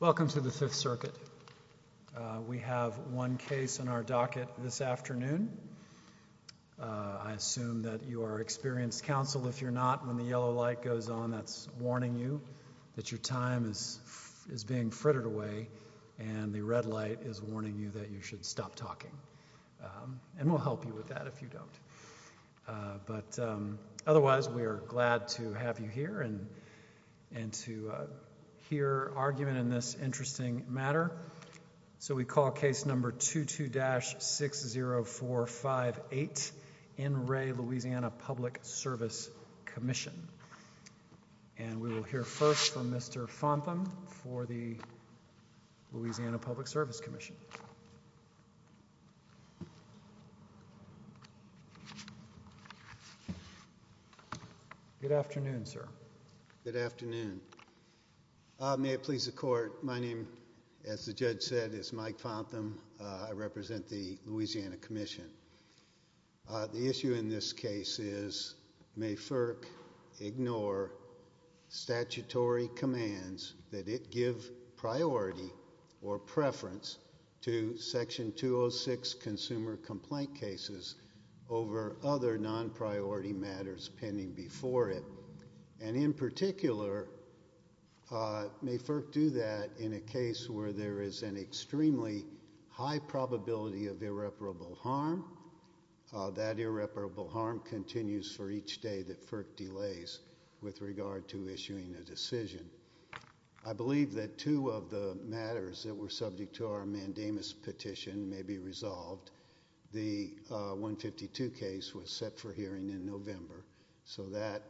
Welcome to the 5th circuit. We have one case in our docket this afternoon. I assume that you are experienced counsel. If you're not, when the yellow light goes on, that's warning you that your time is is being frittered away and the red light is warning you that you should stop talking and we'll help you with that if you don't. But otherwise, we are glad to have you here and and to hear argument in this interesting matter. So we call case number 22 dash 60458 in Ray, Louisiana Public Service Commission. And we will hear first from Mr. Fontham for the Louisiana Public Service Commission. Good afternoon, sir. Good afternoon. May it please the court. My name, as the judge said, is Mike Fontham. I represent the Louisiana Commission. The issue in this case is may FERC ignore statutory commands that it give priority or preference to Section 206 consumer complaint cases over other non-priority matters pending before it. And in particular, may FERC do that in a case where there is an extremely high probability of irreparable harm that irreparable harm continues for each day that FERC delays with regard to issuing a decision. I believe that two of the matters that were subject to our mandamus petition may be resolved. The 152 case was set for hearing in November so that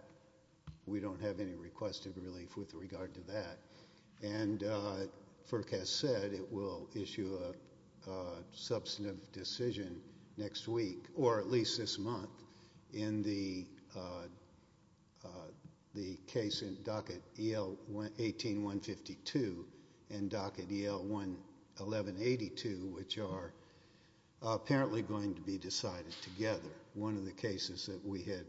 we don't have any request of relief with regard to that. And FERC has said it will issue a substantive decision next week or at least this month in the case in docket EL 18152 and docket EL 1182, which are apparently going to be decided together. One of the cases that we had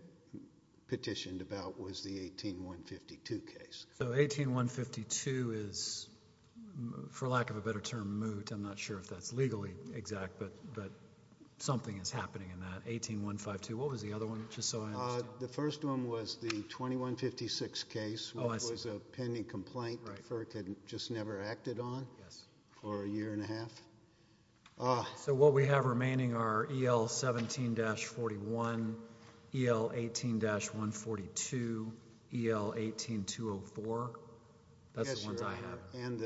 petitioned about was the 18152 case. So 18152 is, for lack of a better term, moot. I'm not sure if that's legally exact, but something is happening in that. 18152, what was the other one, just so I understand? The first one was the 2156 case, which was a pending complaint that FERC had just never acted on for a year and a half. So what we have remaining are EL 17-41, EL 18-142, EL 18-204. That's the ones I have. And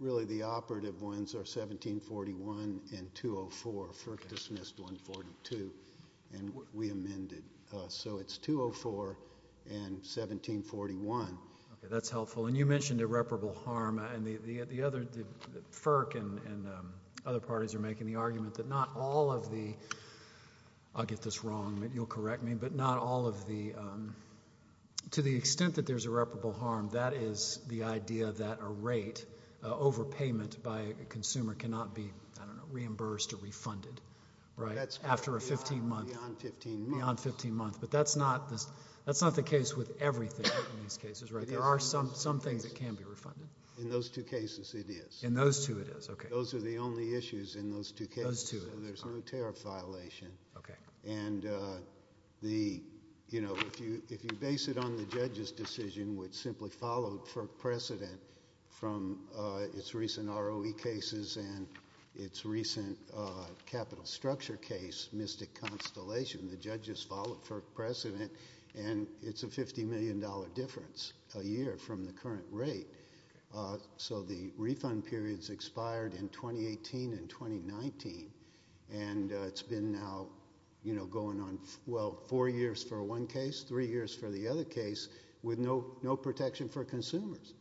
really the operative ones are 17-41 and 204. FERC dismissed 142 and we amended. So it's 204 and 17-41. Okay, that's helpful. And you mentioned irreparable harm and the other, FERC and other parties are making the argument that not all of the, I'll get this wrong, you'll correct me, but not all of the, to the extent that there's irreparable harm, that is the idea that a rate, overpayment by a consumer cannot be, I don't know, reimbursed or refunded, right, after a 15 month, beyond 15 months. But that's not the case with everything in these cases, right? There are some things that can be refunded. In those two cases it is. In those two it is, okay. Those are the only issues in those two cases. So there's no tariff violation. Okay. And the, you know, if you base it on the judge's decision, which simply followed FERC precedent from its recent ROE cases and its recent capital structure case, Mystic Constellation, the judge has followed FERC precedent and it's a $50 million difference a year from the current rate. So the refund period's expired in 2018 and 2019 and it's been now, you know, going on, well, four years for one case, three years for the other case, with no protection for consumers.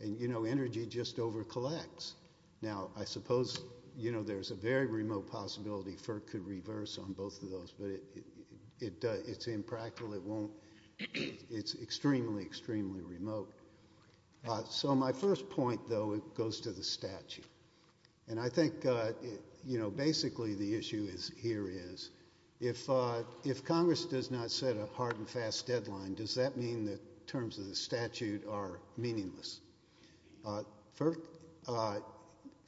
And, you know, energy just over collects. Now, I suppose, you know, there's a very remote possibility FERC could reverse on both of those, but it does, it's impractical, it won't, it's extremely, extremely remote. So my first point, though, goes to the statute. And I think, you know, basically the issue here is if Congress does not set a hard and fast deadline, does that mean that terms of the statute are meaningless? FERC,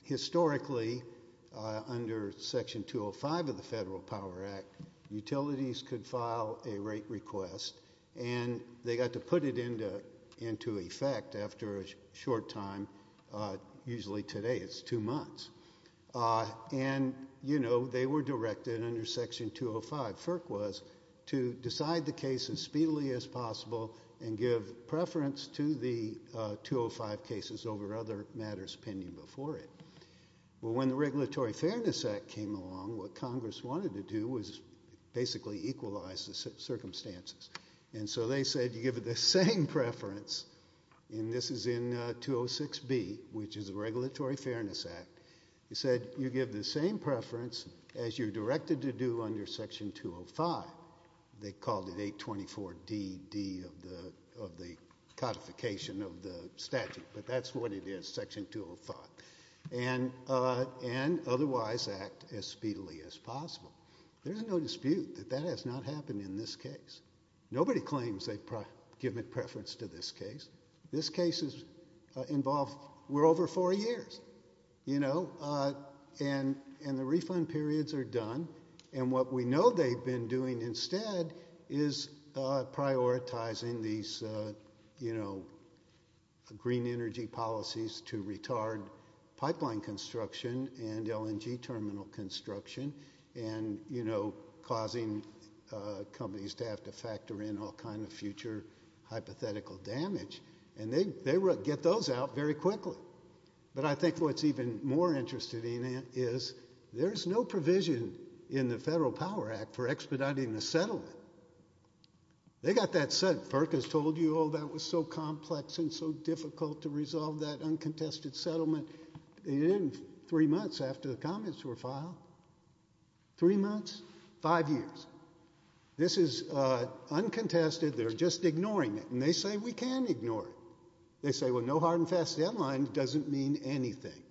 historically, under Section 205 of the Federal Power Act, utilities could file a rate request and they got to put it into effect after a short time, usually today, it's two months. And, you know, they were directed under Section 205, FERC was, to decide the case as speedily as possible and give preference to the 205 cases over other matters pending before it. But when the Regulatory Fairness Act came along, what Congress wanted to do was basically equalize the circumstances. And so they said you give it the same preference, and this is in 206B, which is the Regulatory Fairness Act. They said you give the same preference as you're directed to do under Section 205. They called it 824DD of the codification of the statute, but that's what it is, Section 205. And otherwise act as speedily as possible. There's no dispute that that has not happened in this case. Nobody claims they've given preference to this case. This case is involved, we're over four years, you know, and the refund periods are done. And what we know they've been doing instead is prioritizing these, you know, green energy policies to retard pipeline construction and LNG terminal construction. And, you know, causing companies to have to factor in all kinds of future hypothetical damage. And they get those out very quickly. But I think what's even more interesting is there's no provision in the Federal Power Act for expediting the settlement. They got that settled. FERC has told you, oh, that was so complex and so difficult to resolve that uncontested settlement in three months after the comments were filed. Three months, five years. This is uncontested, they're just ignoring it. And they say we can ignore it. They say, well, no hard and fast deadline doesn't mean anything.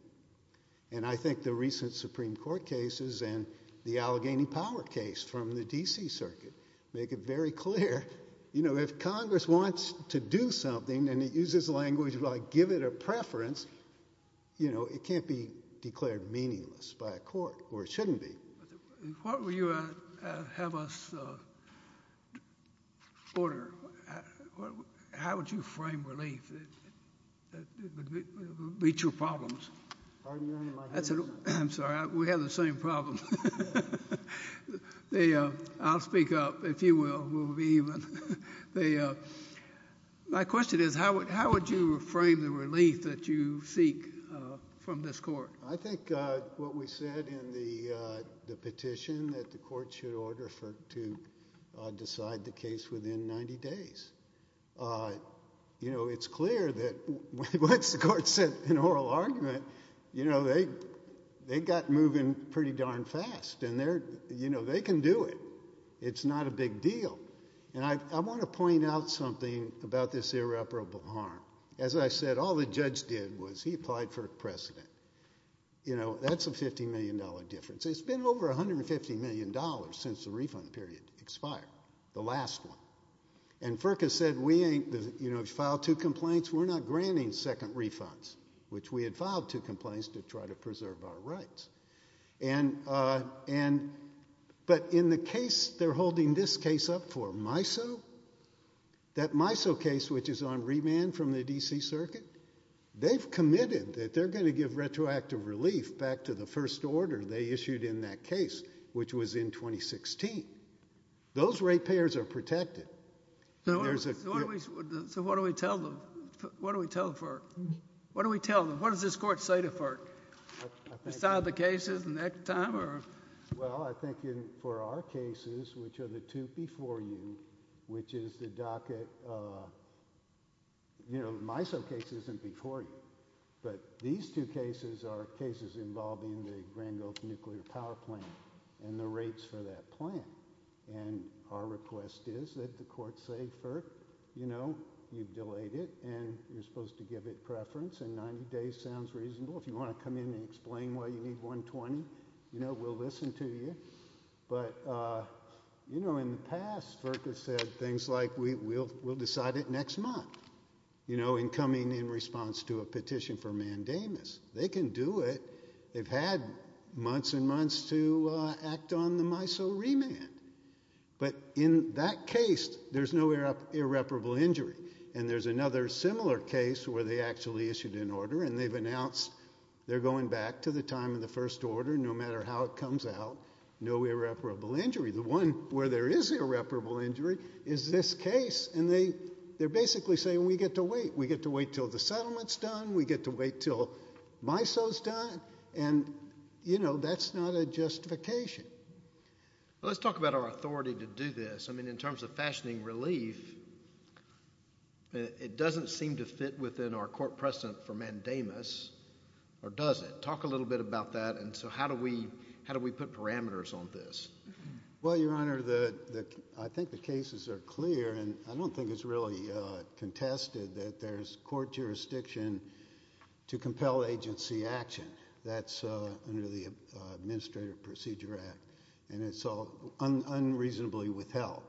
And I think the recent Supreme Court cases and the Allegheny Power case from the D.C. Circuit make it very clear, you know, if Congress wants to do something and it uses language like give it a preference, you know, it can't be declared meaningless by a court, or it shouldn't be. What would you have us order? How would you frame relief that would meet your problems? I'm sorry, we have the same problem. I'll speak up, if you will, we'll be even. My question is, how would you frame the relief that you seek from this court? I think what we said in the petition that the court should order FERC to decide the case within 90 days. You know, it's clear that once the court sent an oral argument, you know, they got moving pretty darn fast. And, you know, they can do it. It's not a big deal. And I want to point out something about this irreparable harm. As I said, all the judge did was he applied for a precedent. You know, that's a $50 million difference. It's been over $150 million since the refund period expired, the last one. And FERC has said we ain't, you know, filed two complaints, we're not granting second refunds, which we had filed two complaints to try to preserve our rights. But in the case they're holding this case up for, MISO, that MISO case, which is on remand from the D.C. Circuit, they've committed that they're going to give retroactive relief back to the first order they issued in that case, which was in 2016. Those ratepayers are protected. So what do we tell them? What do we tell FERC? What do we tell them? What does this court say to FERC? Resolve the cases next time or? Well, I think for our cases, which are the two before you, which is the docket, you know, MISO case isn't before you. But these two cases are cases involving the Grand Gulf Nuclear Power Plant and the rates for that plant. And our request is that the court say, FERC, you know, you've delayed it and you're supposed to give it preference, and 90 days sounds reasonable. If you want to come in and explain why you need 120, you know, we'll listen to you. But, you know, in the past, FERC has said things like we'll decide it next month, you know, in coming in response to a petition for mandamus. They can do it. They've had months and months to act on the MISO remand. But in that case, there's no irreparable injury. And there's another similar case where they actually issued an order and they've announced they're going back to the time of the first order, no matter how it comes out, no irreparable injury. The one where there is irreparable injury is this case. And they're basically saying we get to wait. We get to wait until the settlement's done. We get to wait until MISO's done. And, you know, that's not a justification. Well, let's talk about our authority to do this. I mean, in terms of fashioning relief, it doesn't seem to fit within our court precedent for mandamus, or does it? Talk a little bit about that. And so how do we put parameters on this? Well, Your Honor, I think the cases are clear. And I don't think it's really contested that there's court jurisdiction to compel agency action. That's under the Administrative Procedure Act. And it's unreasonably withheld.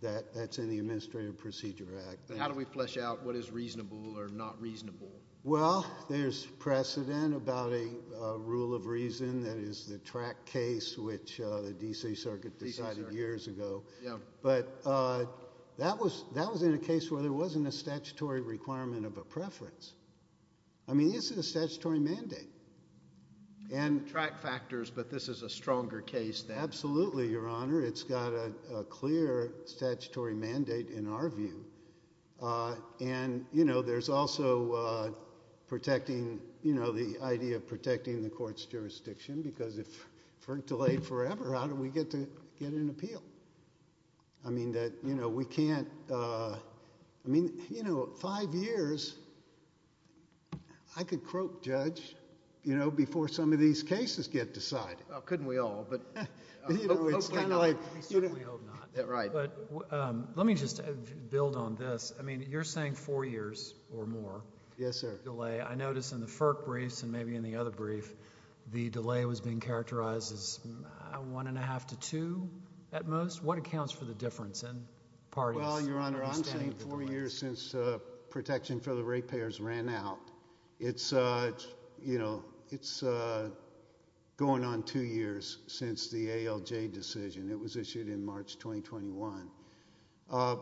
That's in the Administrative Procedure Act. How do we flesh out what is reasonable or not reasonable? Well, there's precedent about a rule of reason that is the track case, which the D.C. Circuit decided years ago. But that was in a case where there wasn't a statutory requirement of a preference. I mean, this is a statutory mandate. And track factors, but this is a stronger case then. Absolutely, Your Honor. It's got a clear statutory mandate in our view. And, you know, there's also protecting, you know, the idea of protecting the court's jurisdiction. Because if we're delayed forever, how do we get an appeal? I mean, you know, five years, I could croak judge, you know, before some of these cases get decided. Couldn't we all, but hopefully not. I certainly hope not. But let me just build on this. I mean, you're saying four years or more. Yes, sir. I notice in the FERC briefs and maybe in the other brief, the delay was being characterized as one and a half to two at most. What accounts for the difference in parties? Well, Your Honor, I'm saying four years since protection for the rate payers ran out. It's, you know, it's going on two years since the ALJ decision. It was issued in March 2021. I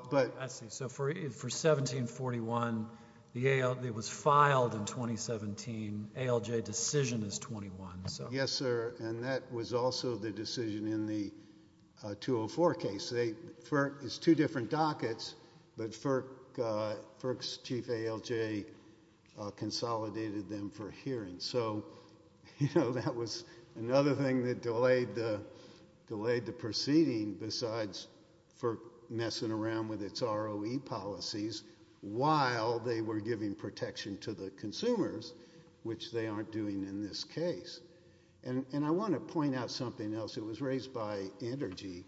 see. So for 1741, it was filed in 2017. ALJ decision is 21. Yes, sir. And that was also the decision in the 204 case. It's two different dockets, but FERC's chief ALJ consolidated them for hearing. So, you know, that was another thing that delayed the proceeding besides FERC messing around with its ROE policies while they were giving protection to the consumers, which they aren't doing in this case. And I want to point out something else. It was raised by Entergy.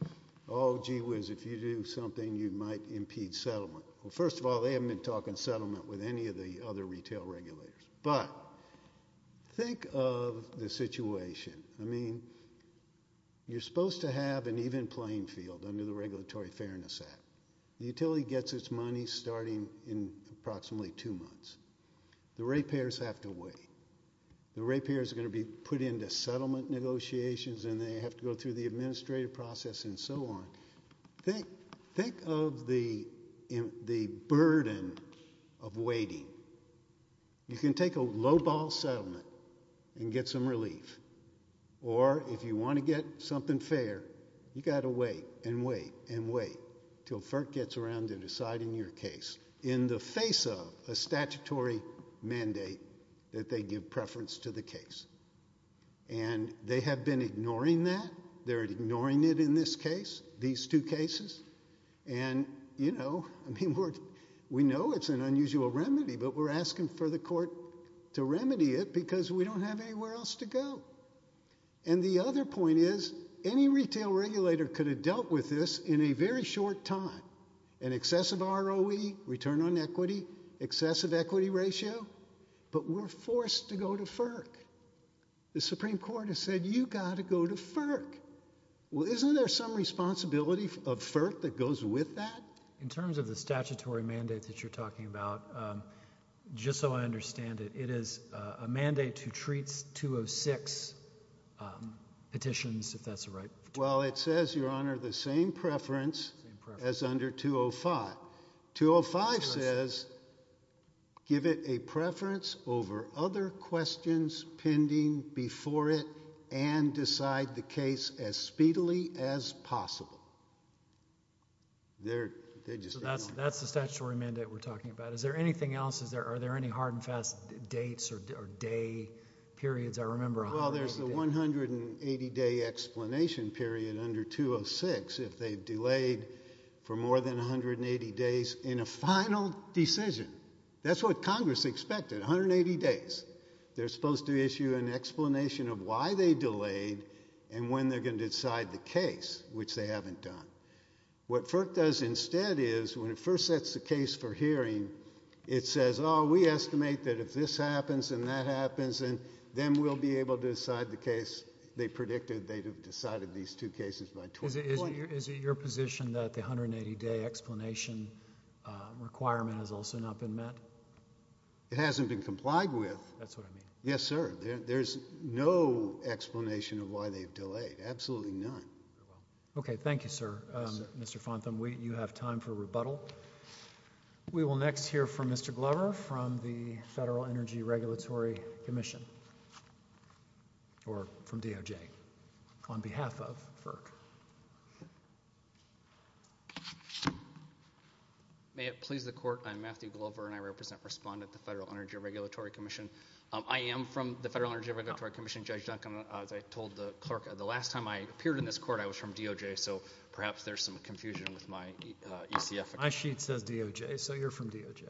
Oh, gee whiz, if you do something, you might impede settlement. Well, first of all, they haven't been talking settlement with any of the other retail regulators. But think of the situation. I mean, you're supposed to have an even playing field under the Regulatory Fairness Act. The utility gets its money starting in approximately two months. The rate payers have to wait. The rate payers are going to be put into settlement negotiations, and they have to go through the administrative process and so on. Think of the burden of waiting. You can take a lowball settlement and get some relief. Or if you want to get something fair, you've got to wait and wait and wait until FERC gets around to deciding your case in the face of a statutory mandate that they give preference to the case. And they have been ignoring that. They're ignoring it in this case, these two cases. And, you know, we know it's an unusual remedy, but we're asking for the court to remedy it because we don't have anywhere else to go. And the other point is any retail regulator could have dealt with this in a very short time. An excessive ROE, return on equity, excessive equity ratio, but we're forced to go to FERC. The Supreme Court has said you've got to go to FERC. Well, isn't there some responsibility of FERC that goes with that? In terms of the statutory mandate that you're talking about, just so I understand it, it is a mandate to treat 206 petitions, if that's the right term. Well, it says, Your Honor, the same preference as under 205. Well, 205 says give it a preference over other questions pending before it and decide the case as speedily as possible. They're just ignoring it. So that's the statutory mandate we're talking about. Is there anything else? Are there any hard and fast dates or day periods? Well, there's the 180-day explanation period under 206 if they've delayed for more than 180 days in a final decision. That's what Congress expected, 180 days. They're supposed to issue an explanation of why they delayed and when they're going to decide the case, which they haven't done. What FERC does instead is when it first sets the case for hearing, it says, Oh, we estimate that if this happens and that happens, then we'll be able to decide the case. They predicted they'd have decided these two cases by 2020. Is it your position that the 180-day explanation requirement has also not been met? It hasn't been complied with. That's what I mean. Yes, sir. There's no explanation of why they've delayed, absolutely none. Okay, thank you, sir. Mr. Fontham, you have time for rebuttal. We will next hear from Mr. Glover from the Federal Energy Regulatory Commission, or from DOJ. On behalf of FERC. May it please the Court, I'm Matthew Glover, and I represent Respondent at the Federal Energy Regulatory Commission. I am from the Federal Energy Regulatory Commission. Judge Duncan, as I told the Clerk, the last time I appeared in this Court I was from DOJ, so perhaps there's some confusion with my ECF. My sheet says DOJ, so you're from DOJ.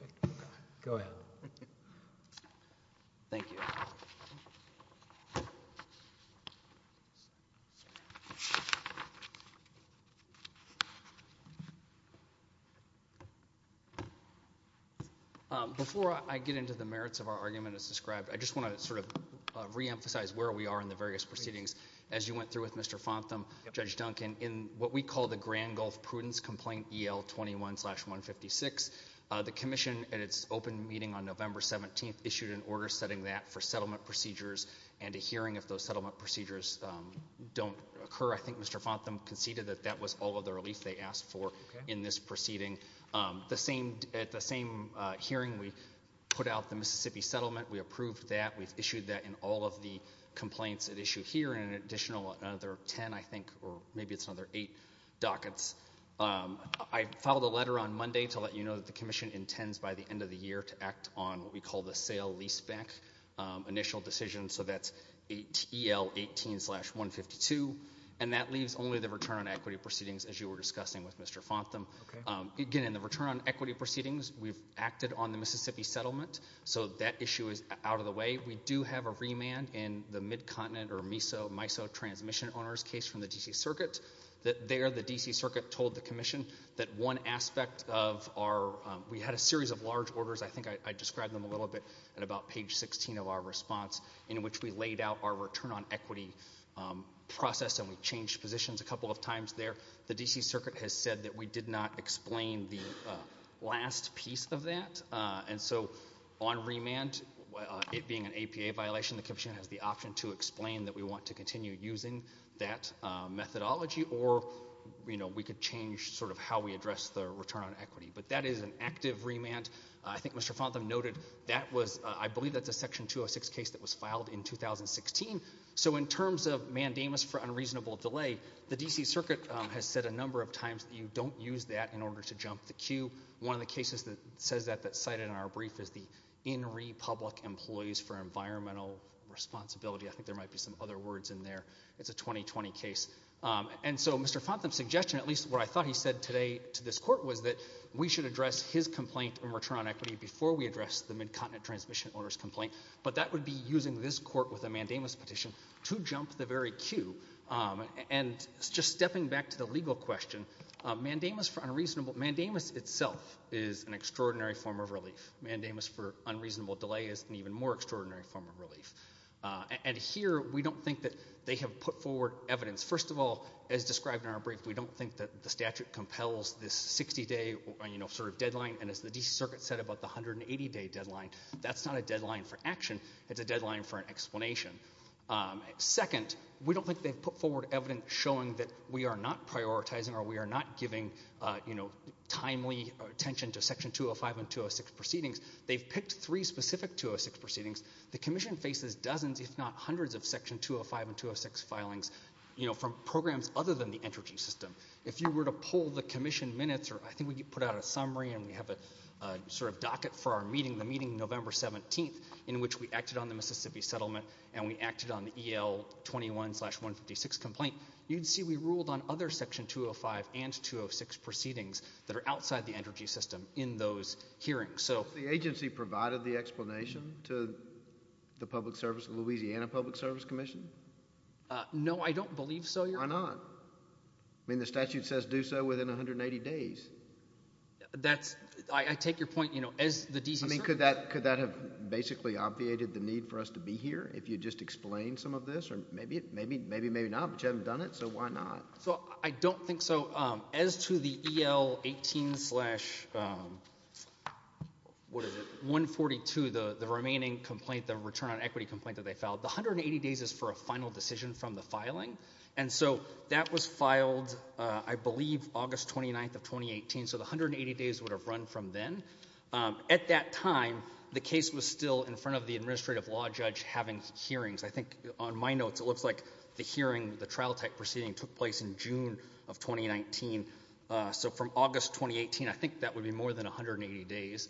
Go ahead. Thank you. Before I get into the merits of our argument as described, I just want to sort of reemphasize where we are in the various proceedings. As you went through with Mr. Fontham, Judge Duncan, in what we call the Grand Gulf Prudence Complaint EL21-156, the Commission, at its open meeting on November 17th, issued an order setting that for settlement procedures and a hearing if those settlement procedures don't occur. I think Mr. Fontham conceded that that was all of the relief they asked for in this proceeding. At the same hearing, we put out the Mississippi settlement. We approved that. We've issued that in all of the complaints at issue here and an additional 10, I think, or maybe it's another eight, dockets. I filed a letter on Monday to let you know that the Commission intends by the end of the year to act on what we call the sale leaseback initial decision, so that's EL18-152, and that leaves only the return on equity proceedings, as you were discussing with Mr. Fontham. Again, in the return on equity proceedings, we've acted on the Mississippi settlement, so that issue is out of the way. We do have a remand in the Mid-Continent or MISO transmission owners case from the D.C. Circuit. There, the D.C. Circuit told the Commission that one aspect of our – we had a series of large orders. I think I described them a little bit at about page 16 of our response in which we laid out our return on equity process, and we changed positions a couple of times there. The D.C. Circuit has said that we did not explain the last piece of that, and so on remand, it being an APA violation, the Commission has the option to explain that we want to continue using that methodology. Or, you know, we could change sort of how we address the return on equity. But that is an active remand. I think Mr. Fontham noted that was – I believe that's a Section 206 case that was filed in 2016. So in terms of mandamus for unreasonable delay, the D.C. Circuit has said a number of times that you don't use that in order to jump the queue. One of the cases that says that that's cited in our brief is the In Re Public Employees for Environmental Responsibility. I think there might be some other words in there. It's a 2020 case. And so Mr. Fontham's suggestion, at least what I thought he said today to this court, was that we should address his complaint in return on equity before we address the Mid-Continent Transmission Orders complaint. But that would be using this court with a mandamus petition to jump the very queue. And just stepping back to the legal question, mandamus itself is an extraordinary form of relief. Mandamus for unreasonable delay is an even more extraordinary form of relief. And here we don't think that they have put forward evidence. First of all, as described in our brief, we don't think that the statute compels this 60-day sort of deadline. And as the D.C. Circuit said about the 180-day deadline, that's not a deadline for action. It's a deadline for an explanation. Second, we don't think they've put forward evidence showing that we are not prioritizing or we are not giving timely attention to Section 205 and 206 proceedings. They've picked three specific 206 proceedings. The commission faces dozens, if not hundreds, of Section 205 and 206 filings from programs other than the energy system. If you were to pull the commission minutes, or I think we put out a summary and we have a sort of docket for our meeting, the meeting November 17th, in which we acted on the Mississippi settlement and we acted on the EL21-156 complaint, you'd see we ruled on other Section 205 and 206 proceedings that are outside the energy system in those hearings. The agency provided the explanation to the Louisiana Public Service Commission? No, I don't believe so, Your Honor. Why not? I mean the statute says do so within 180 days. I take your point. Could that have basically obviated the need for us to be here if you just explained some of this? Maybe, maybe not, but you haven't done it, so why not? So I don't think so. As to the EL18-142, the remaining complaint, the return on equity complaint that they filed, the 180 days is for a final decision from the filing, and so that was filed I believe August 29th of 2018, so the 180 days would have run from then. At that time, the case was still in front of the administrative law judge having hearings. I think on my notes it looks like the hearing, the trial-type proceeding took place in June of 2019, so from August 2018, I think that would be more than 180 days.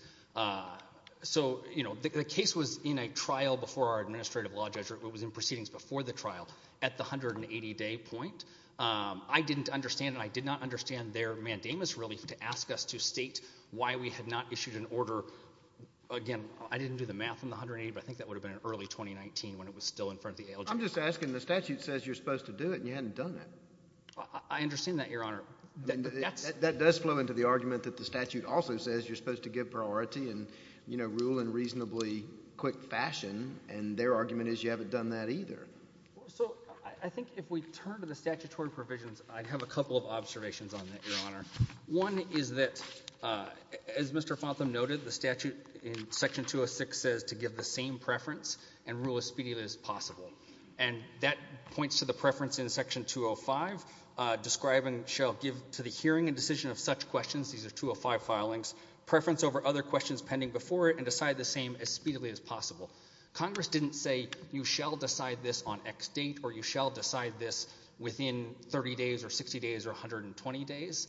So, you know, the case was in a trial before our administrative law judge, it was in proceedings before the trial at the 180-day point. I didn't understand, and I did not understand their mandamus really to ask us to state why we had not issued an order. Again, I didn't do the math on the 180, but I think that would have been in early 2019 when it was still in front of the ALJ. I'm just asking. The statute says you're supposed to do it, and you hadn't done it. I understand that, Your Honor. That does flow into the argument that the statute also says you're supposed to give priority and, you know, rule in reasonably quick fashion, and their argument is you haven't done that either. So I think if we turn to the statutory provisions, I have a couple of observations on that, Your Honor. One is that, as Mr. Fotham noted, the statute in Section 206 says to give the same preference and rule as speedily as possible, and that points to the preference in Section 205, describing shall give to the hearing and decision of such questions, these are 205 filings, preference over other questions pending before it, and decide the same as speedily as possible. Congress didn't say you shall decide this on X date or you shall decide this within 30 days or 60 days or 120 days.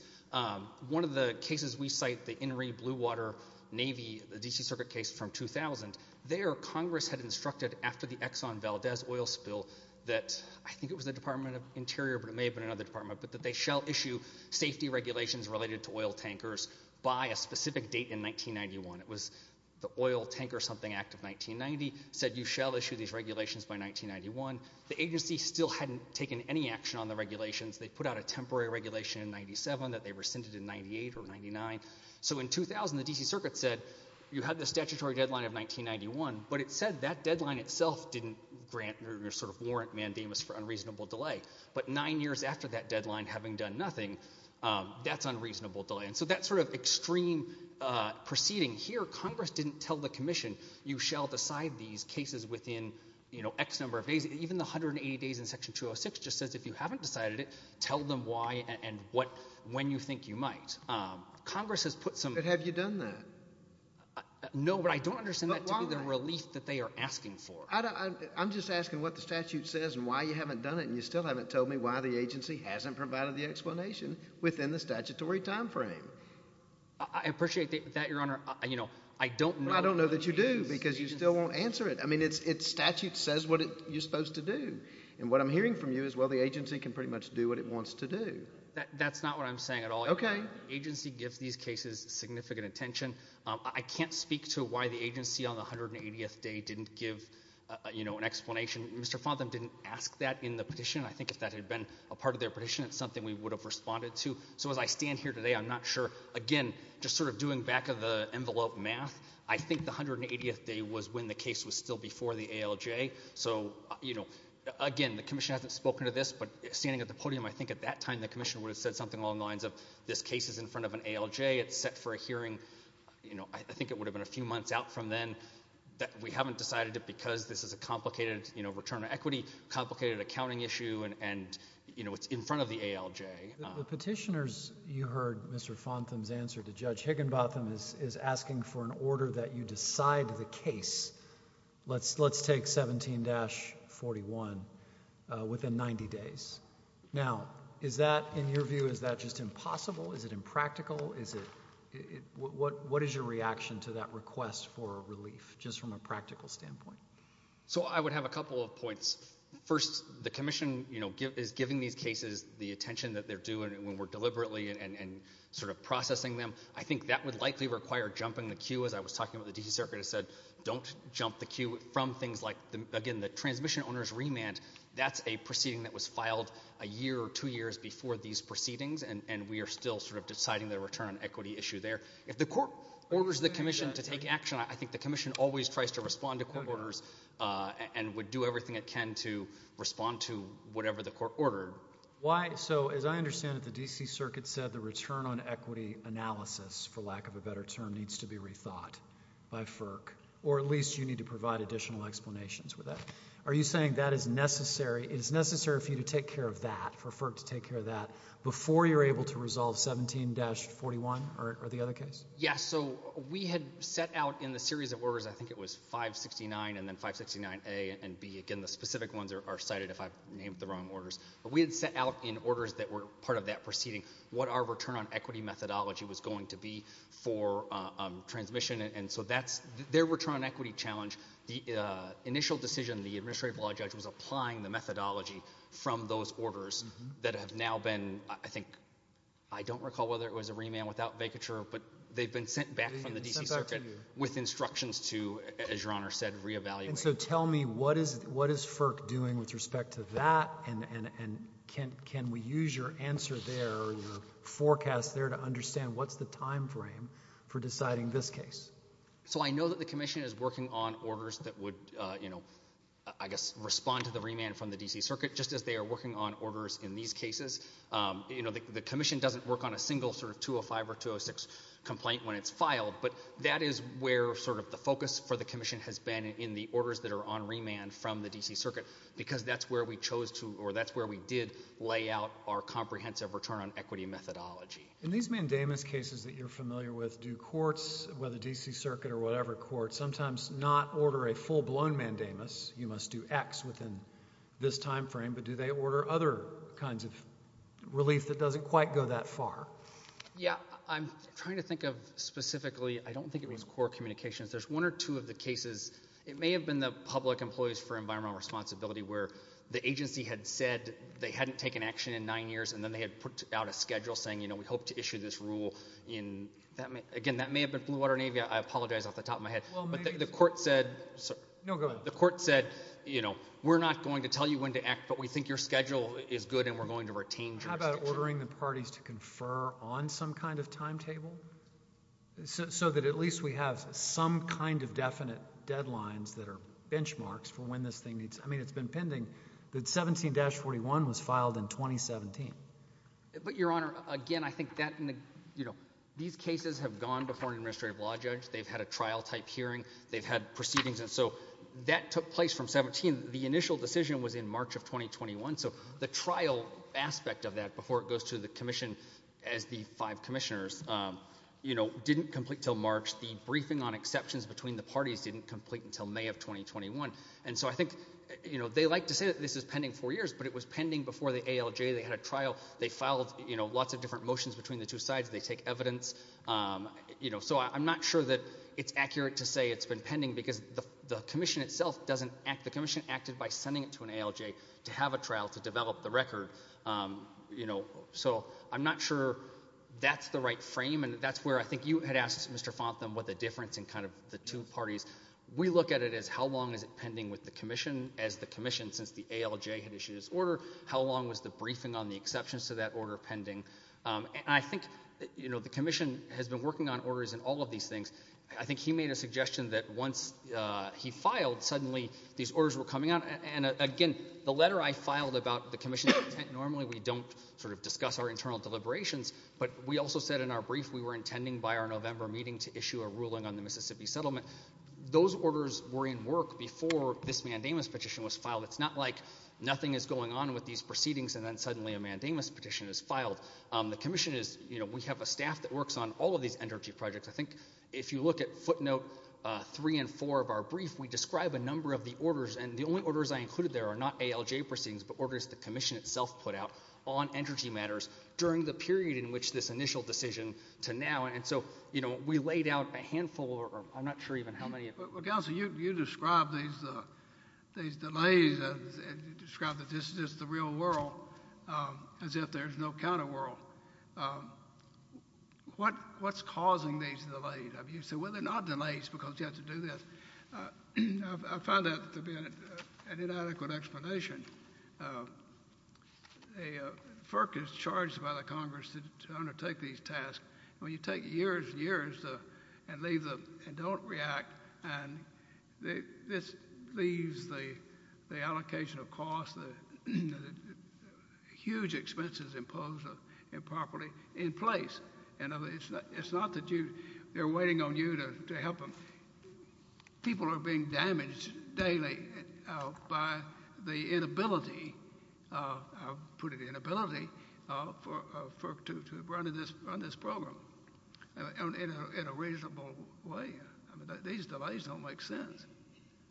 One of the cases we cite, the Inree Bluewater Navy, the D.C. Circuit case from 2000, there Congress had instructed after the Exxon Valdez oil spill that I think it was the Department of Interior, but it may have been another department, but that they shall issue safety regulations related to oil tankers by a specific date in 1991. It was the Oil Tanker Something Act of 1990 said you shall issue these regulations by 1991. The agency still hadn't taken any action on the regulations. They put out a temporary regulation in 97 that they rescinded in 98 or 99. So in 2000, the D.C. Circuit said you had the statutory deadline of 1991, but it said that deadline itself didn't grant or sort of warrant mandamus for unreasonable delay. But nine years after that deadline, having done nothing, that's unreasonable delay. And so that sort of extreme proceeding here, Congress didn't tell the commission you shall decide these cases within X number of days. Even the 180 days in Section 206 just says if you haven't decided it, tell them why and when you think you might. Congress has put some. But have you done that? No, but I don't understand that to be the relief that they are asking for. I'm just asking what the statute says and why you haven't done it, and you still haven't told me why the agency hasn't provided the explanation within the statutory time frame. I appreciate that, Your Honor. I don't know. I don't know that you do because you still won't answer it. I mean, its statute says what you're supposed to do. And what I'm hearing from you is, well, the agency can pretty much do what it wants to do. That's not what I'm saying at all. Okay. Agency gives these cases significant attention. I can't speak to why the agency on the 180th day didn't give an explanation. Mr. Fontham didn't ask that in the petition. I think if that had been a part of their petition, it's something we would have responded to. So as I stand here today, I'm not sure. Again, just sort of doing back of the envelope math, I think the 180th day was when the case was still before the ALJ. So, you know, again, the commission hasn't spoken to this, but standing at the podium, I think at that time the commission would have said something along the lines of this case is in front of an ALJ. It's set for a hearing, you know, I think it would have been a few months out from then. We haven't decided it because this is a complicated, you know, return to equity, complicated accounting issue, and, you know, it's in front of the ALJ. The petitioners, you heard Mr. Fontham's answer to Judge Higginbotham, is asking for an order that you decide the case. Let's take 17-41 within 90 days. Now, is that, in your view, is that just impossible? Is it impractical? What is your reaction to that request for relief, just from a practical standpoint? So I would have a couple of points. First, the commission, you know, is giving these cases the attention that they're due when we're deliberately and sort of processing them. I think that would likely require jumping the queue, as I was talking about the D.C. Circuit has said, don't jump the queue from things like, again, the transmission owner's remand. That's a proceeding that was filed a year or two years before these proceedings, and we are still sort of deciding the return on equity issue there. If the court orders the commission to take action, I think the commission always tries to respond to court orders and would do everything it can to respond to whatever the court ordered. So as I understand it, the D.C. Circuit said the return on equity analysis, for lack of a better term, needs to be rethought by FERC, or at least you need to provide additional explanations for that. Are you saying that is necessary? It is necessary for you to take care of that, for FERC to take care of that, before you're able to resolve 17-41 or the other case? Yes, so we had set out in the series of orders, I think it was 569 and then 569A and B. Again, the specific ones are cited if I've named the wrong orders. But we had set out in orders that were part of that proceeding what our return on equity methodology was going to be for transmission, and so that's their return on equity challenge. The initial decision, the administrative law judge was applying the methodology from those orders that have now been, I think, I don't recall whether it was a remand without vacature, but they've been sent back from the D.C. Circuit with instructions to, as Your Honor said, re-evaluate. And so tell me, what is FERC doing with respect to that? And can we use your answer there, your forecast there, to understand what's the time frame for deciding this case? So I know that the Commission is working on orders that would, you know, I guess respond to the remand from the D.C. Circuit, just as they are working on orders in these cases. You know, the Commission doesn't work on a single sort of 205 or 206 complaint when it's filed, but that is where sort of the focus for the Commission has been in the orders that are on remand from the D.C. Circuit, because that's where we chose to or that's where we did lay out our comprehensive return on equity methodology. In these mandamus cases that you're familiar with, do courts, whether D.C. Circuit or whatever courts, sometimes not order a full-blown mandamus, you must do X within this time frame, but do they order other kinds of relief that doesn't quite go that far? Yeah, I'm trying to think of specifically, I don't think it was core communications. There's one or two of the cases. It may have been the public employees for environmental responsibility where the agency had said they hadn't taken action in nine years, and then they had put out a schedule saying, you know, we hope to issue this rule in, again, that may have been Blue Water and Avia. I apologize off the top of my head. But the court said, you know, we're not going to tell you when to act, but we think your schedule is good and we're going to retain your schedule. How about ordering the parties to confer on some kind of timetable so that at least we have some kind of definite deadlines that are benchmarks for when this thing needs – I mean, it's been pending that 17-41 was filed in 2017. But, Your Honor, again, I think that – you know, these cases have gone before an administrative law judge. They've had a trial-type hearing. They've had proceedings, and so that took place from 17. Again, the initial decision was in March of 2021, so the trial aspect of that before it goes to the commission as the five commissioners, you know, didn't complete until March. The briefing on exceptions between the parties didn't complete until May of 2021. And so I think, you know, they like to say that this is pending four years, but it was pending before the ALJ. They had a trial. They filed lots of different motions between the two sides. They take evidence. So I'm not sure that it's accurate to say it's been pending because the commission itself doesn't act – the commission acted by sending it to an ALJ to have a trial to develop the record. You know, so I'm not sure that's the right frame, and that's where I think you had asked Mr. Fontham what the difference in kind of the two parties. We look at it as how long is it pending with the commission as the commission since the ALJ had issued its order? How long was the briefing on the exceptions to that order pending? And I think, you know, the commission has been working on orders in all of these things. I think he made a suggestion that once he filed, suddenly these orders were coming out. And, again, the letter I filed about the commission's intent, normally we don't sort of discuss our internal deliberations, but we also said in our brief we were intending by our November meeting to issue a ruling on the Mississippi settlement. Those orders were in work before this mandamus petition was filed. It's not like nothing is going on with these proceedings and then suddenly a mandamus petition is filed. The commission is – you know, we have a staff that works on all of these energy projects. I think if you look at footnote three and four of our brief, we describe a number of the orders, and the only orders I included there are not ALJ proceedings but orders the commission itself put out on energy matters during the period in which this initial decision to now. And so, you know, we laid out a handful or I'm not sure even how many. Well, Counselor, you described these delays and described that this is the real world as if there's no counter world. What's causing these delays? You say, well, they're not delays because you have to do this. I find that to be an inadequate explanation. FERC is charged by the Congress to undertake these tasks. When you take years and years and leave them and don't react, this leaves the allocation of costs, the huge expenses imposed improperly in place. It's not that they're waiting on you to help them. People are being damaged daily by the inability, I'll put it inability, to run this program in a reasonable way. These delays don't make sense.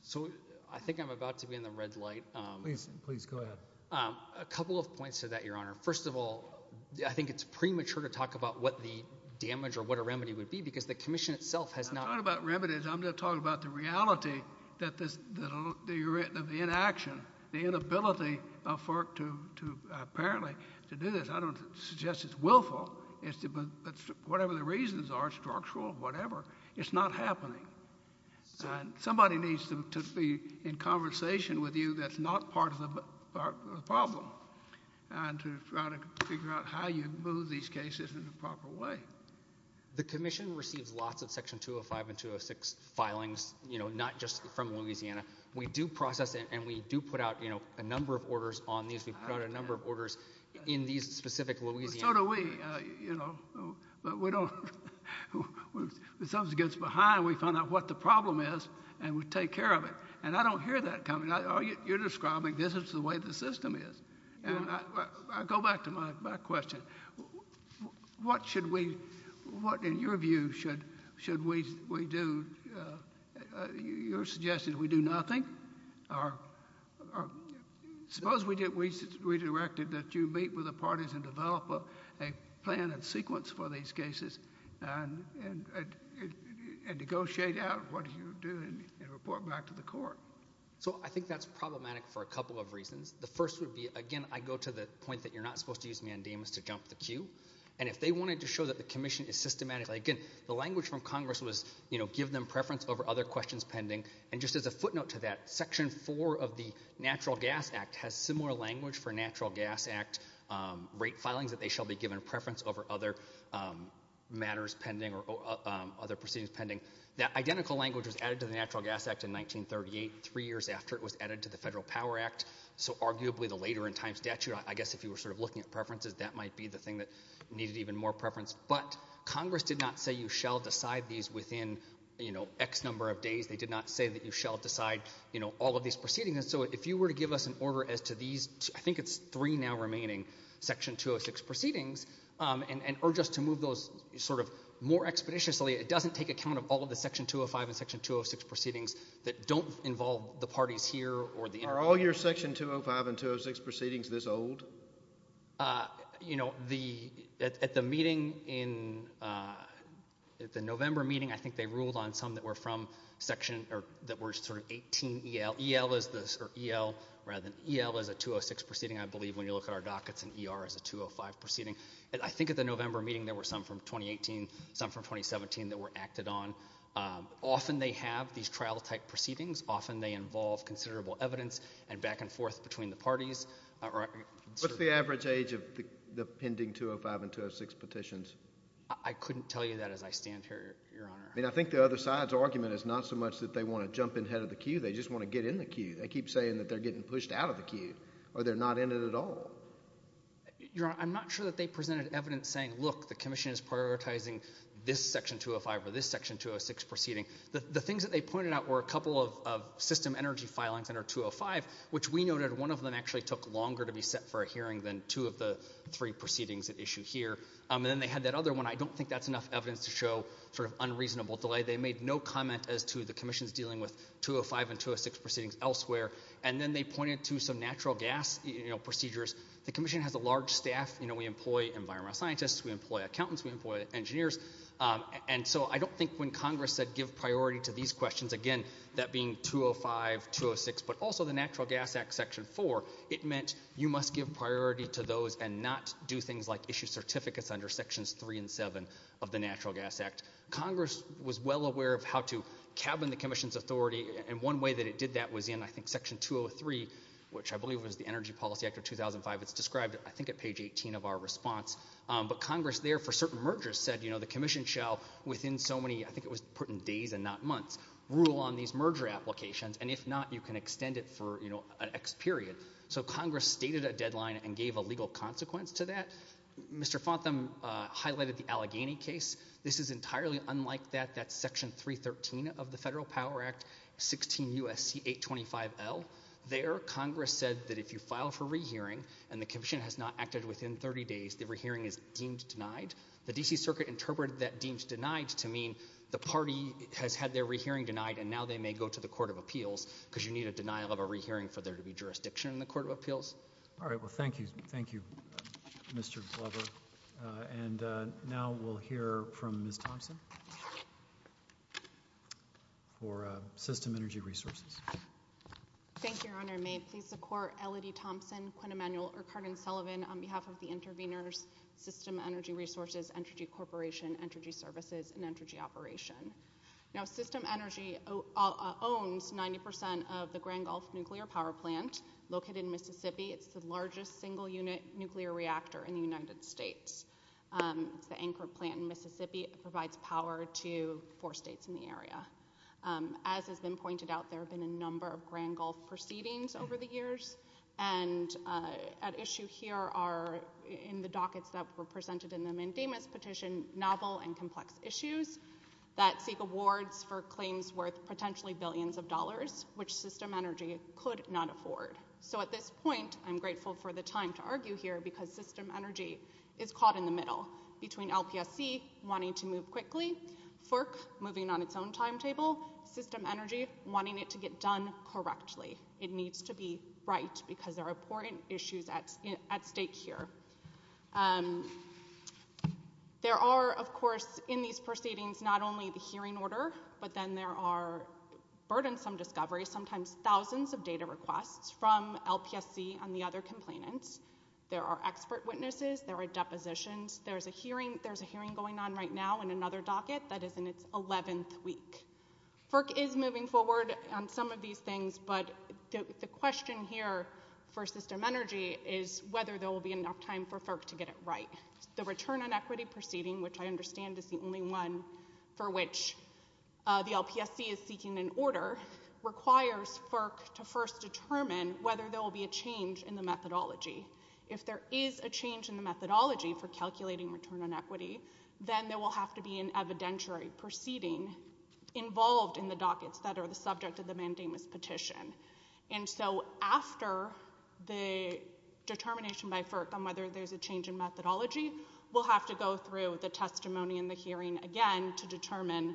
So I think I'm about to be in the red light. Please go ahead. A couple of points to that, Your Honor. First of all, I think it's premature to talk about what the damage or what a remedy would be because the commission itself has not— I'm not talking about remedies. I'm talking about the reality of the inaction, the inability of FERC to apparently do this. I don't suggest it's willful. Whatever the reasons are, structural, whatever, it's not happening. Somebody needs to be in conversation with you that's not part of the problem and to try to figure out how you move these cases in the proper way. The commission receives lots of Section 205 and 206 filings, not just from Louisiana. We do process it, and we do put out a number of orders on these. We put out a number of orders in these specific Louisiana— So do we. But we don't— When something gets behind, we find out what the problem is, and we take care of it. And I don't hear that coming. You're describing this is the way the system is. I go back to my question. What should we—what, in your view, should we do? Your suggestion is we do nothing? Or suppose we redirected that you meet with the parties and develop a plan and sequence for these cases and negotiate out what you do and report back to the court. So I think that's problematic for a couple of reasons. The first would be, again, I go to the point that you're not supposed to use mandamus to jump the queue. And if they wanted to show that the commission is systematically— Again, the language from Congress was give them preference over other questions pending. And just as a footnote to that, Section 4 of the Natural Gas Act has similar language for Natural Gas Act rate filings, that they shall be given preference over other matters pending or other proceedings pending. That identical language was added to the Natural Gas Act in 1938, three years after it was added to the Federal Power Act. So arguably the later-in-time statute, I guess if you were sort of looking at preferences, that might be the thing that needed even more preference. But Congress did not say you shall decide these within X number of days. They did not say that you shall decide, you know, all of these proceedings. And so if you were to give us an order as to these— I think it's three now remaining Section 206 proceedings and urge us to move those sort of more expeditiously, it doesn't take account of all of the Section 205 and Section 206 proceedings that don't involve the parties here or the— Are all your Section 205 and 206 proceedings this old? You know, at the meeting in—at the November meeting, I think they ruled on some that were from Section— or that were sort of 18EL. EL is the—or EL rather than—EL is a 206 proceeding, I believe. When you look at our dockets, an ER is a 205 proceeding. I think at the November meeting there were some from 2018, some from 2017 that were acted on. Often they have these trial-type proceedings. Often they involve considerable evidence and back and forth between the parties. What's the average age of the pending 205 and 206 petitions? I couldn't tell you that as I stand here, Your Honor. I mean, I think the other side's argument is not so much that they want to jump in ahead of the queue, they just want to get in the queue. They keep saying that they're getting pushed out of the queue or they're not in it at all. Your Honor, I'm not sure that they presented evidence saying, look, the commission is prioritizing this Section 205 or this Section 206 proceeding. The things that they pointed out were a couple of system energy filings under 205, which we noted one of them actually took longer to be set for a hearing than two of the three proceedings at issue here. And then they had that other one. I don't think that's enough evidence to show sort of unreasonable delay. They made no comment as to the commission's dealing with 205 and 206 proceedings elsewhere. And then they pointed to some natural gas procedures. The commission has a large staff. We employ environmental scientists. We employ accountants. We employ engineers. And so I don't think when Congress said give priority to these questions, again, that being 205, 206, but also the Natural Gas Act Section 4, it meant you must give priority to those and not do things like issue certificates under Sections 3 and 7 of the Natural Gas Act. Congress was well aware of how to cabin the commission's authority, and one way that it did that was in, I think, Section 203, which I believe was the Energy Policy Act of 2005. It's described, I think, at page 18 of our response. But Congress there for certain mergers said, you know, the commission shall within so many, I think it was put in days and not months, rule on these merger applications, and if not, you can extend it for an X period. So Congress stated a deadline and gave a legal consequence to that. Mr. Fontham highlighted the Allegheny case. This is entirely unlike that, that Section 313 of the Federal Power Act, 16 U.S.C. 825L. There Congress said that if you file for rehearing and the commission has not acted within 30 days, the rehearing is deemed denied. The D.C. Circuit interpreted that deemed denied to mean the party has had their rehearing denied, and now they may go to the Court of Appeals because you need a denial of a rehearing for there to be jurisdiction in the Court of Appeals. All right. Well, thank you. Thank you, Mr. Glover. And now we'll hear from Ms. Thompson for System Energy Resources. Thank you, Your Honor. May it please the Court, Elodie Thompson, Quinn Emanuel, or Carden Sullivan, on behalf of the intervenors, System Energy Resources, Energy Corporation, Energy Services, and Energy Operation. Now, System Energy owns 90% of the Grand Gulf Nuclear Power Plant located in Mississippi. It's the largest single-unit nuclear reactor in the United States. It's the anchor plant in Mississippi. It provides power to four states in the area. As has been pointed out, there have been a number of Grand Gulf proceedings over the years, and at issue here are, in the dockets that were presented in the Mandamus petition, novel and complex issues that seek awards for claims worth potentially billions of dollars, which System Energy could not afford. So at this point, I'm grateful for the time to argue here because System Energy is caught in the middle, between LPSC wanting to move quickly, FERC moving on its own timetable, System Energy wanting it to get done correctly. It needs to be right because there are important issues at stake here. There are, of course, in these proceedings not only the hearing order, but then there are burdensome discoveries, sometimes thousands of data requests, from LPSC and the other complainants. There are expert witnesses. There are depositions. There's a hearing going on right now in another docket that is in its 11th week. FERC is moving forward on some of these things, but the question here for System Energy is whether there will be enough time for FERC to get it right. The return on equity proceeding, which I understand is the only one for which the LPSC is seeking an order, requires FERC to first determine whether there will be a change in the methodology. If there is a change in the methodology for calculating return on equity, then there will have to be an evidentiary proceeding involved in the dockets that are the subject of the mandamus petition. And so after the determination by FERC on whether there's a change in methodology, we'll have to go through the testimony and the hearing again to determine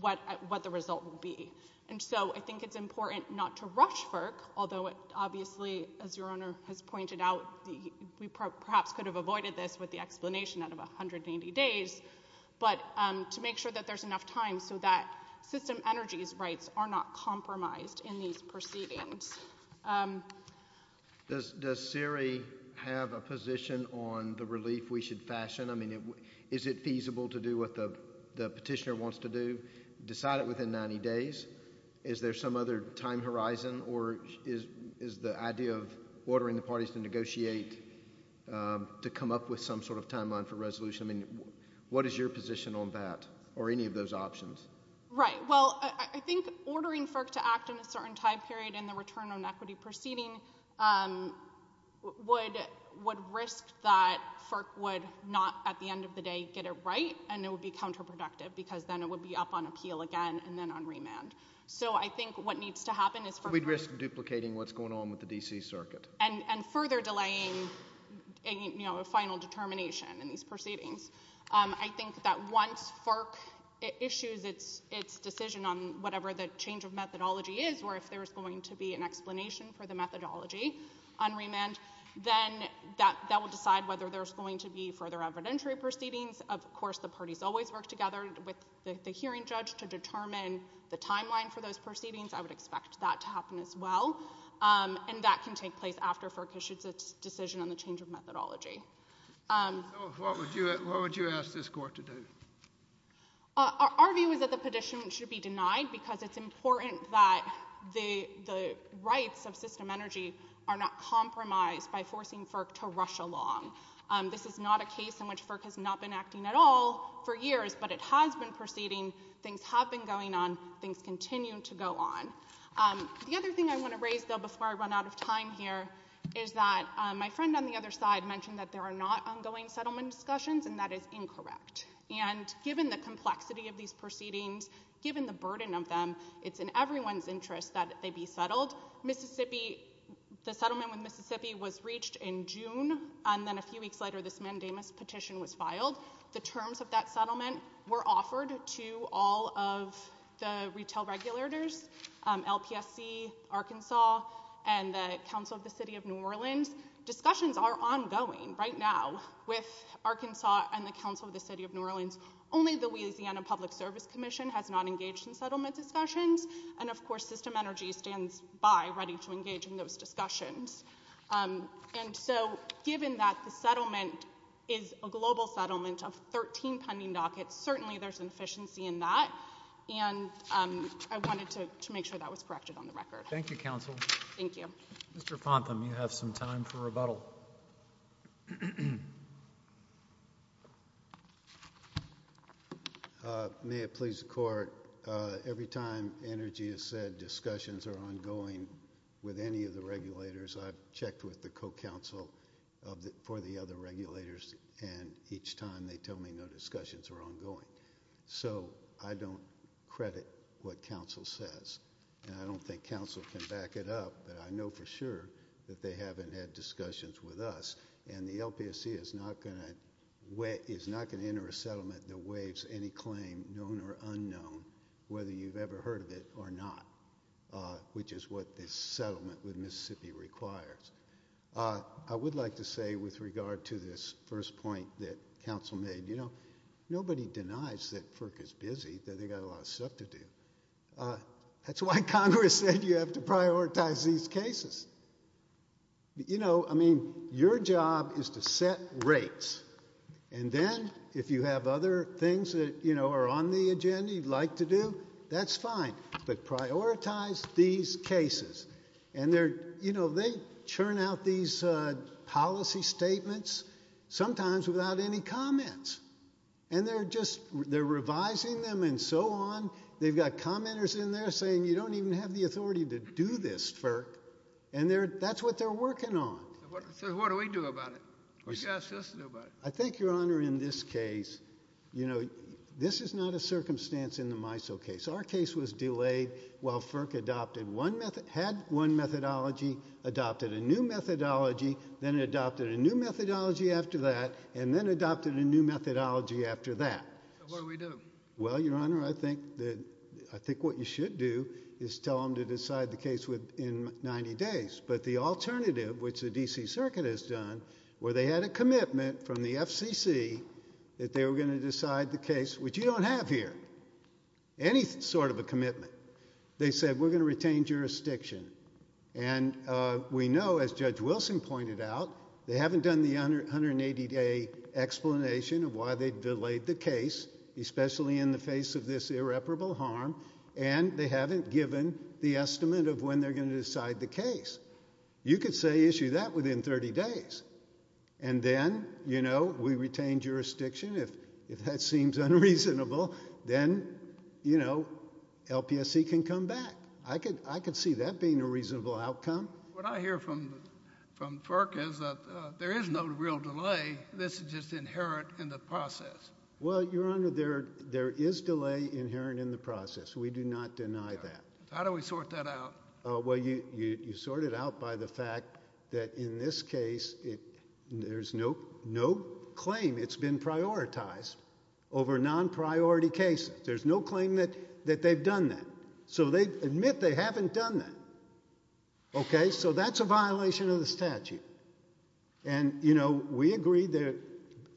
what the result will be. And so I think it's important not to rush FERC, although it obviously, as your Honor has pointed out, we perhaps could have avoided this with the explanation out of 180 days, but to make sure that there's enough time so that System Energy's rights are not compromised in these proceedings. Does CERI have a position on the relief we should fashion? I mean, is it feasible to do what the petitioner wants to do, decide it within 90 days? Is there some other time horizon? Or is the idea of ordering the parties to negotiate to come up with some sort of timeline for resolution? I mean, what is your position on that or any of those options? Right. Well, I think ordering FERC to act in a certain time period in the return on equity proceeding would risk that FERC would not, at the end of the day, get it right, and it would be counterproductive because then it would be up on appeal again and then on remand. So I think what needs to happen is FERC— We'd risk duplicating what's going on with the D.C. Circuit. And further delaying a final determination in these proceedings. I think that once FERC issues its decision on whatever the change of methodology is, or if there's going to be an explanation for the methodology on remand, then that will decide whether there's going to be further evidentiary proceedings. Of course, the parties always work together with the hearing judge to determine the timeline for those proceedings. I would expect that to happen as well. And that can take place after FERC issues its decision on the change of methodology. So what would you ask this Court to do? Our view is that the petition should be denied because it's important that the rights of system energy are not compromised by forcing FERC to rush along. This is not a case in which FERC has not been acting at all for years, but it has been proceeding. Things have been going on. Things continue to go on. The other thing I want to raise, though, before I run out of time here, is that my friend on the other side mentioned that there are not ongoing settlement discussions, and that is incorrect. And given the complexity of these proceedings, given the burden of them, it's in everyone's interest that they be settled. The settlement with Mississippi was reached in June, and then a few weeks later this mandamus petition was filed. The terms of that settlement were offered to all of the retail regulators, LPSC, Arkansas, and the Council of the City of New Orleans. Discussions are ongoing right now with Arkansas and the Council of the City of New Orleans. Only the Louisiana Public Service Commission has not engaged in settlement discussions, and, of course, system energy stands by ready to engage in those discussions. And so given that the settlement is a global settlement of 13 pending dockets, certainly there's an efficiency in that, and I wanted to make sure that was corrected on the record. Thank you, counsel. Thank you. Mr. Fontham, you have some time for rebuttal. May it please the Court, every time energy has said discussions are ongoing with any of the regulators, I've checked with the co-counsel for the other regulators, and each time they tell me no discussions are ongoing. So I don't credit what counsel says, and I don't think counsel can back it up, but I know for sure that they haven't had discussions with us, and the LPSC is not going to enter a settlement that waives any claim, known or unknown, whether you've ever heard of it or not, which is what this settlement with Mississippi requires. I would like to say with regard to this first point that counsel made, you know, nobody denies that FERC is busy, that they've got a lot of stuff to do. That's why Congress said you have to prioritize these cases. You know, I mean, your job is to set rates, and then if you have other things that, you know, are on the agenda you'd like to do, that's fine. But prioritize these cases. And, you know, they churn out these policy statements, sometimes without any comments, and they're just revising them and so on. They've got commenters in there saying you don't even have the authority to do this, FERC, and that's what they're working on. So what do we do about it? What do you ask us to do about it? I think, Your Honor, in this case, you know, this is not a circumstance in the MISO case. Our case was delayed while FERC adopted one methodóhad one methodology, adopted a new methodology, then adopted a new methodology after that, and then adopted a new methodology after that. So what do we do? Well, Your Honor, I think what you should do is tell them to decide the case within 90 days. But the alternative, which the D.C. Circuit has done, where they had a commitment from the FCC that they were going to decide the case, which you don't have here, any sort of a commitment. They said we're going to retain jurisdiction. And we know, as Judge Wilson pointed out, they haven't done the 180-day explanation of why they delayed the case, especially in the face of this irreparable harm, and they haven't given the estimate of when they're going to decide the case. You could say issue that within 30 days. And then, you know, we retain jurisdiction. If that seems unreasonable, then, you know, LPSC can come back. I could see that being a reasonable outcome. What I hear from FERC is that there is no real delay. This is just inherent in the process. Well, Your Honor, there is delay inherent in the process. We do not deny that. How do we sort that out? Well, you sort it out by the fact that in this case there's no claim. It's been prioritized over non-priority cases. There's no claim that they've done that. So they admit they haven't done that. Okay? So that's a violation of the statute. And, you know, we agree that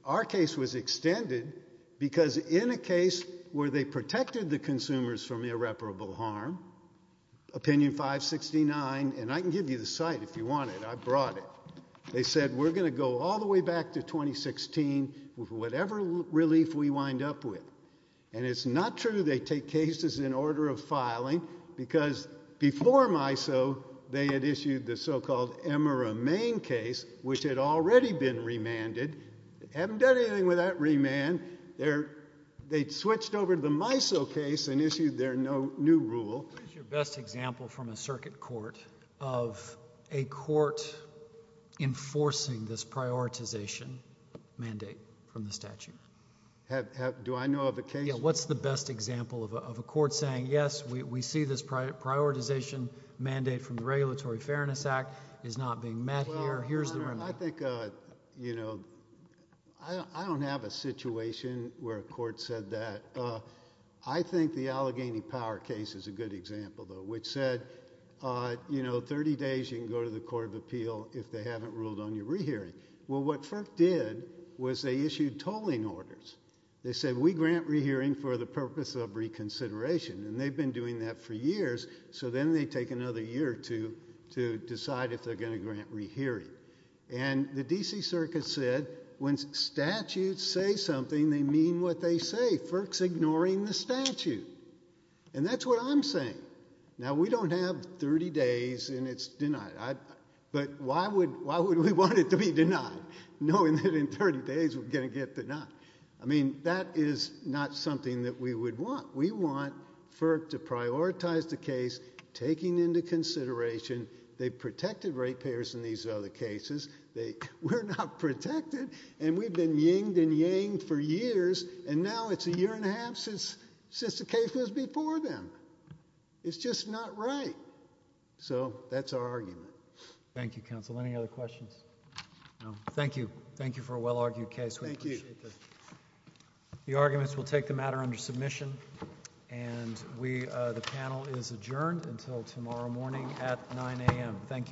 our case was extended because in a case where they protected the consumers from irreparable harm, Opinion 569, and I can give you the site if you want it. I brought it. They said we're going to go all the way back to 2016 with whatever relief we wind up with. And it's not true they take cases in order of filing because before MISO they had issued the so-called Emera Main case, which had already been remanded. They haven't done anything with that remand. They switched over to the MISO case and issued their new rule. What is your best example from a circuit court of a court enforcing this prioritization mandate from the statute? Do I know of a case? Yeah, what's the best example of a court saying, yes, we see this prioritization mandate from the Regulatory Fairness Act is not being met here, here's the remand? Well, I think, you know, I don't have a situation where a court said that. I think the Allegheny Power case is a good example, though, which said, you know, 30 days you can go to the court of appeal if they haven't ruled on your rehearing. Well, what FERC did was they issued tolling orders. They said, we grant rehearing for the purpose of reconsideration, and they've been doing that for years, so then they take another year or two to decide if they're going to grant rehearing. And the D.C. Circuit said when statutes say something, they mean what they say. FERC's ignoring the statute. And that's what I'm saying. Now, we don't have 30 days, and it's denied. But why would we want it to be denied, knowing that in 30 days we're going to get denied? I mean, that is not something that we would want. We want FERC to prioritize the case, taking into consideration they've protected ratepayers in these other cases. We're not protected, and we've been yinged and yanged for years, and now it's a year and a half since the case was before them. It's just not right. So that's our argument. Thank you, counsel. Any other questions? Thank you. Thank you for a well-argued case. We appreciate this. The arguments will take the matter under submission, and the panel is adjourned until tomorrow morning at 9 a.m. Thank you.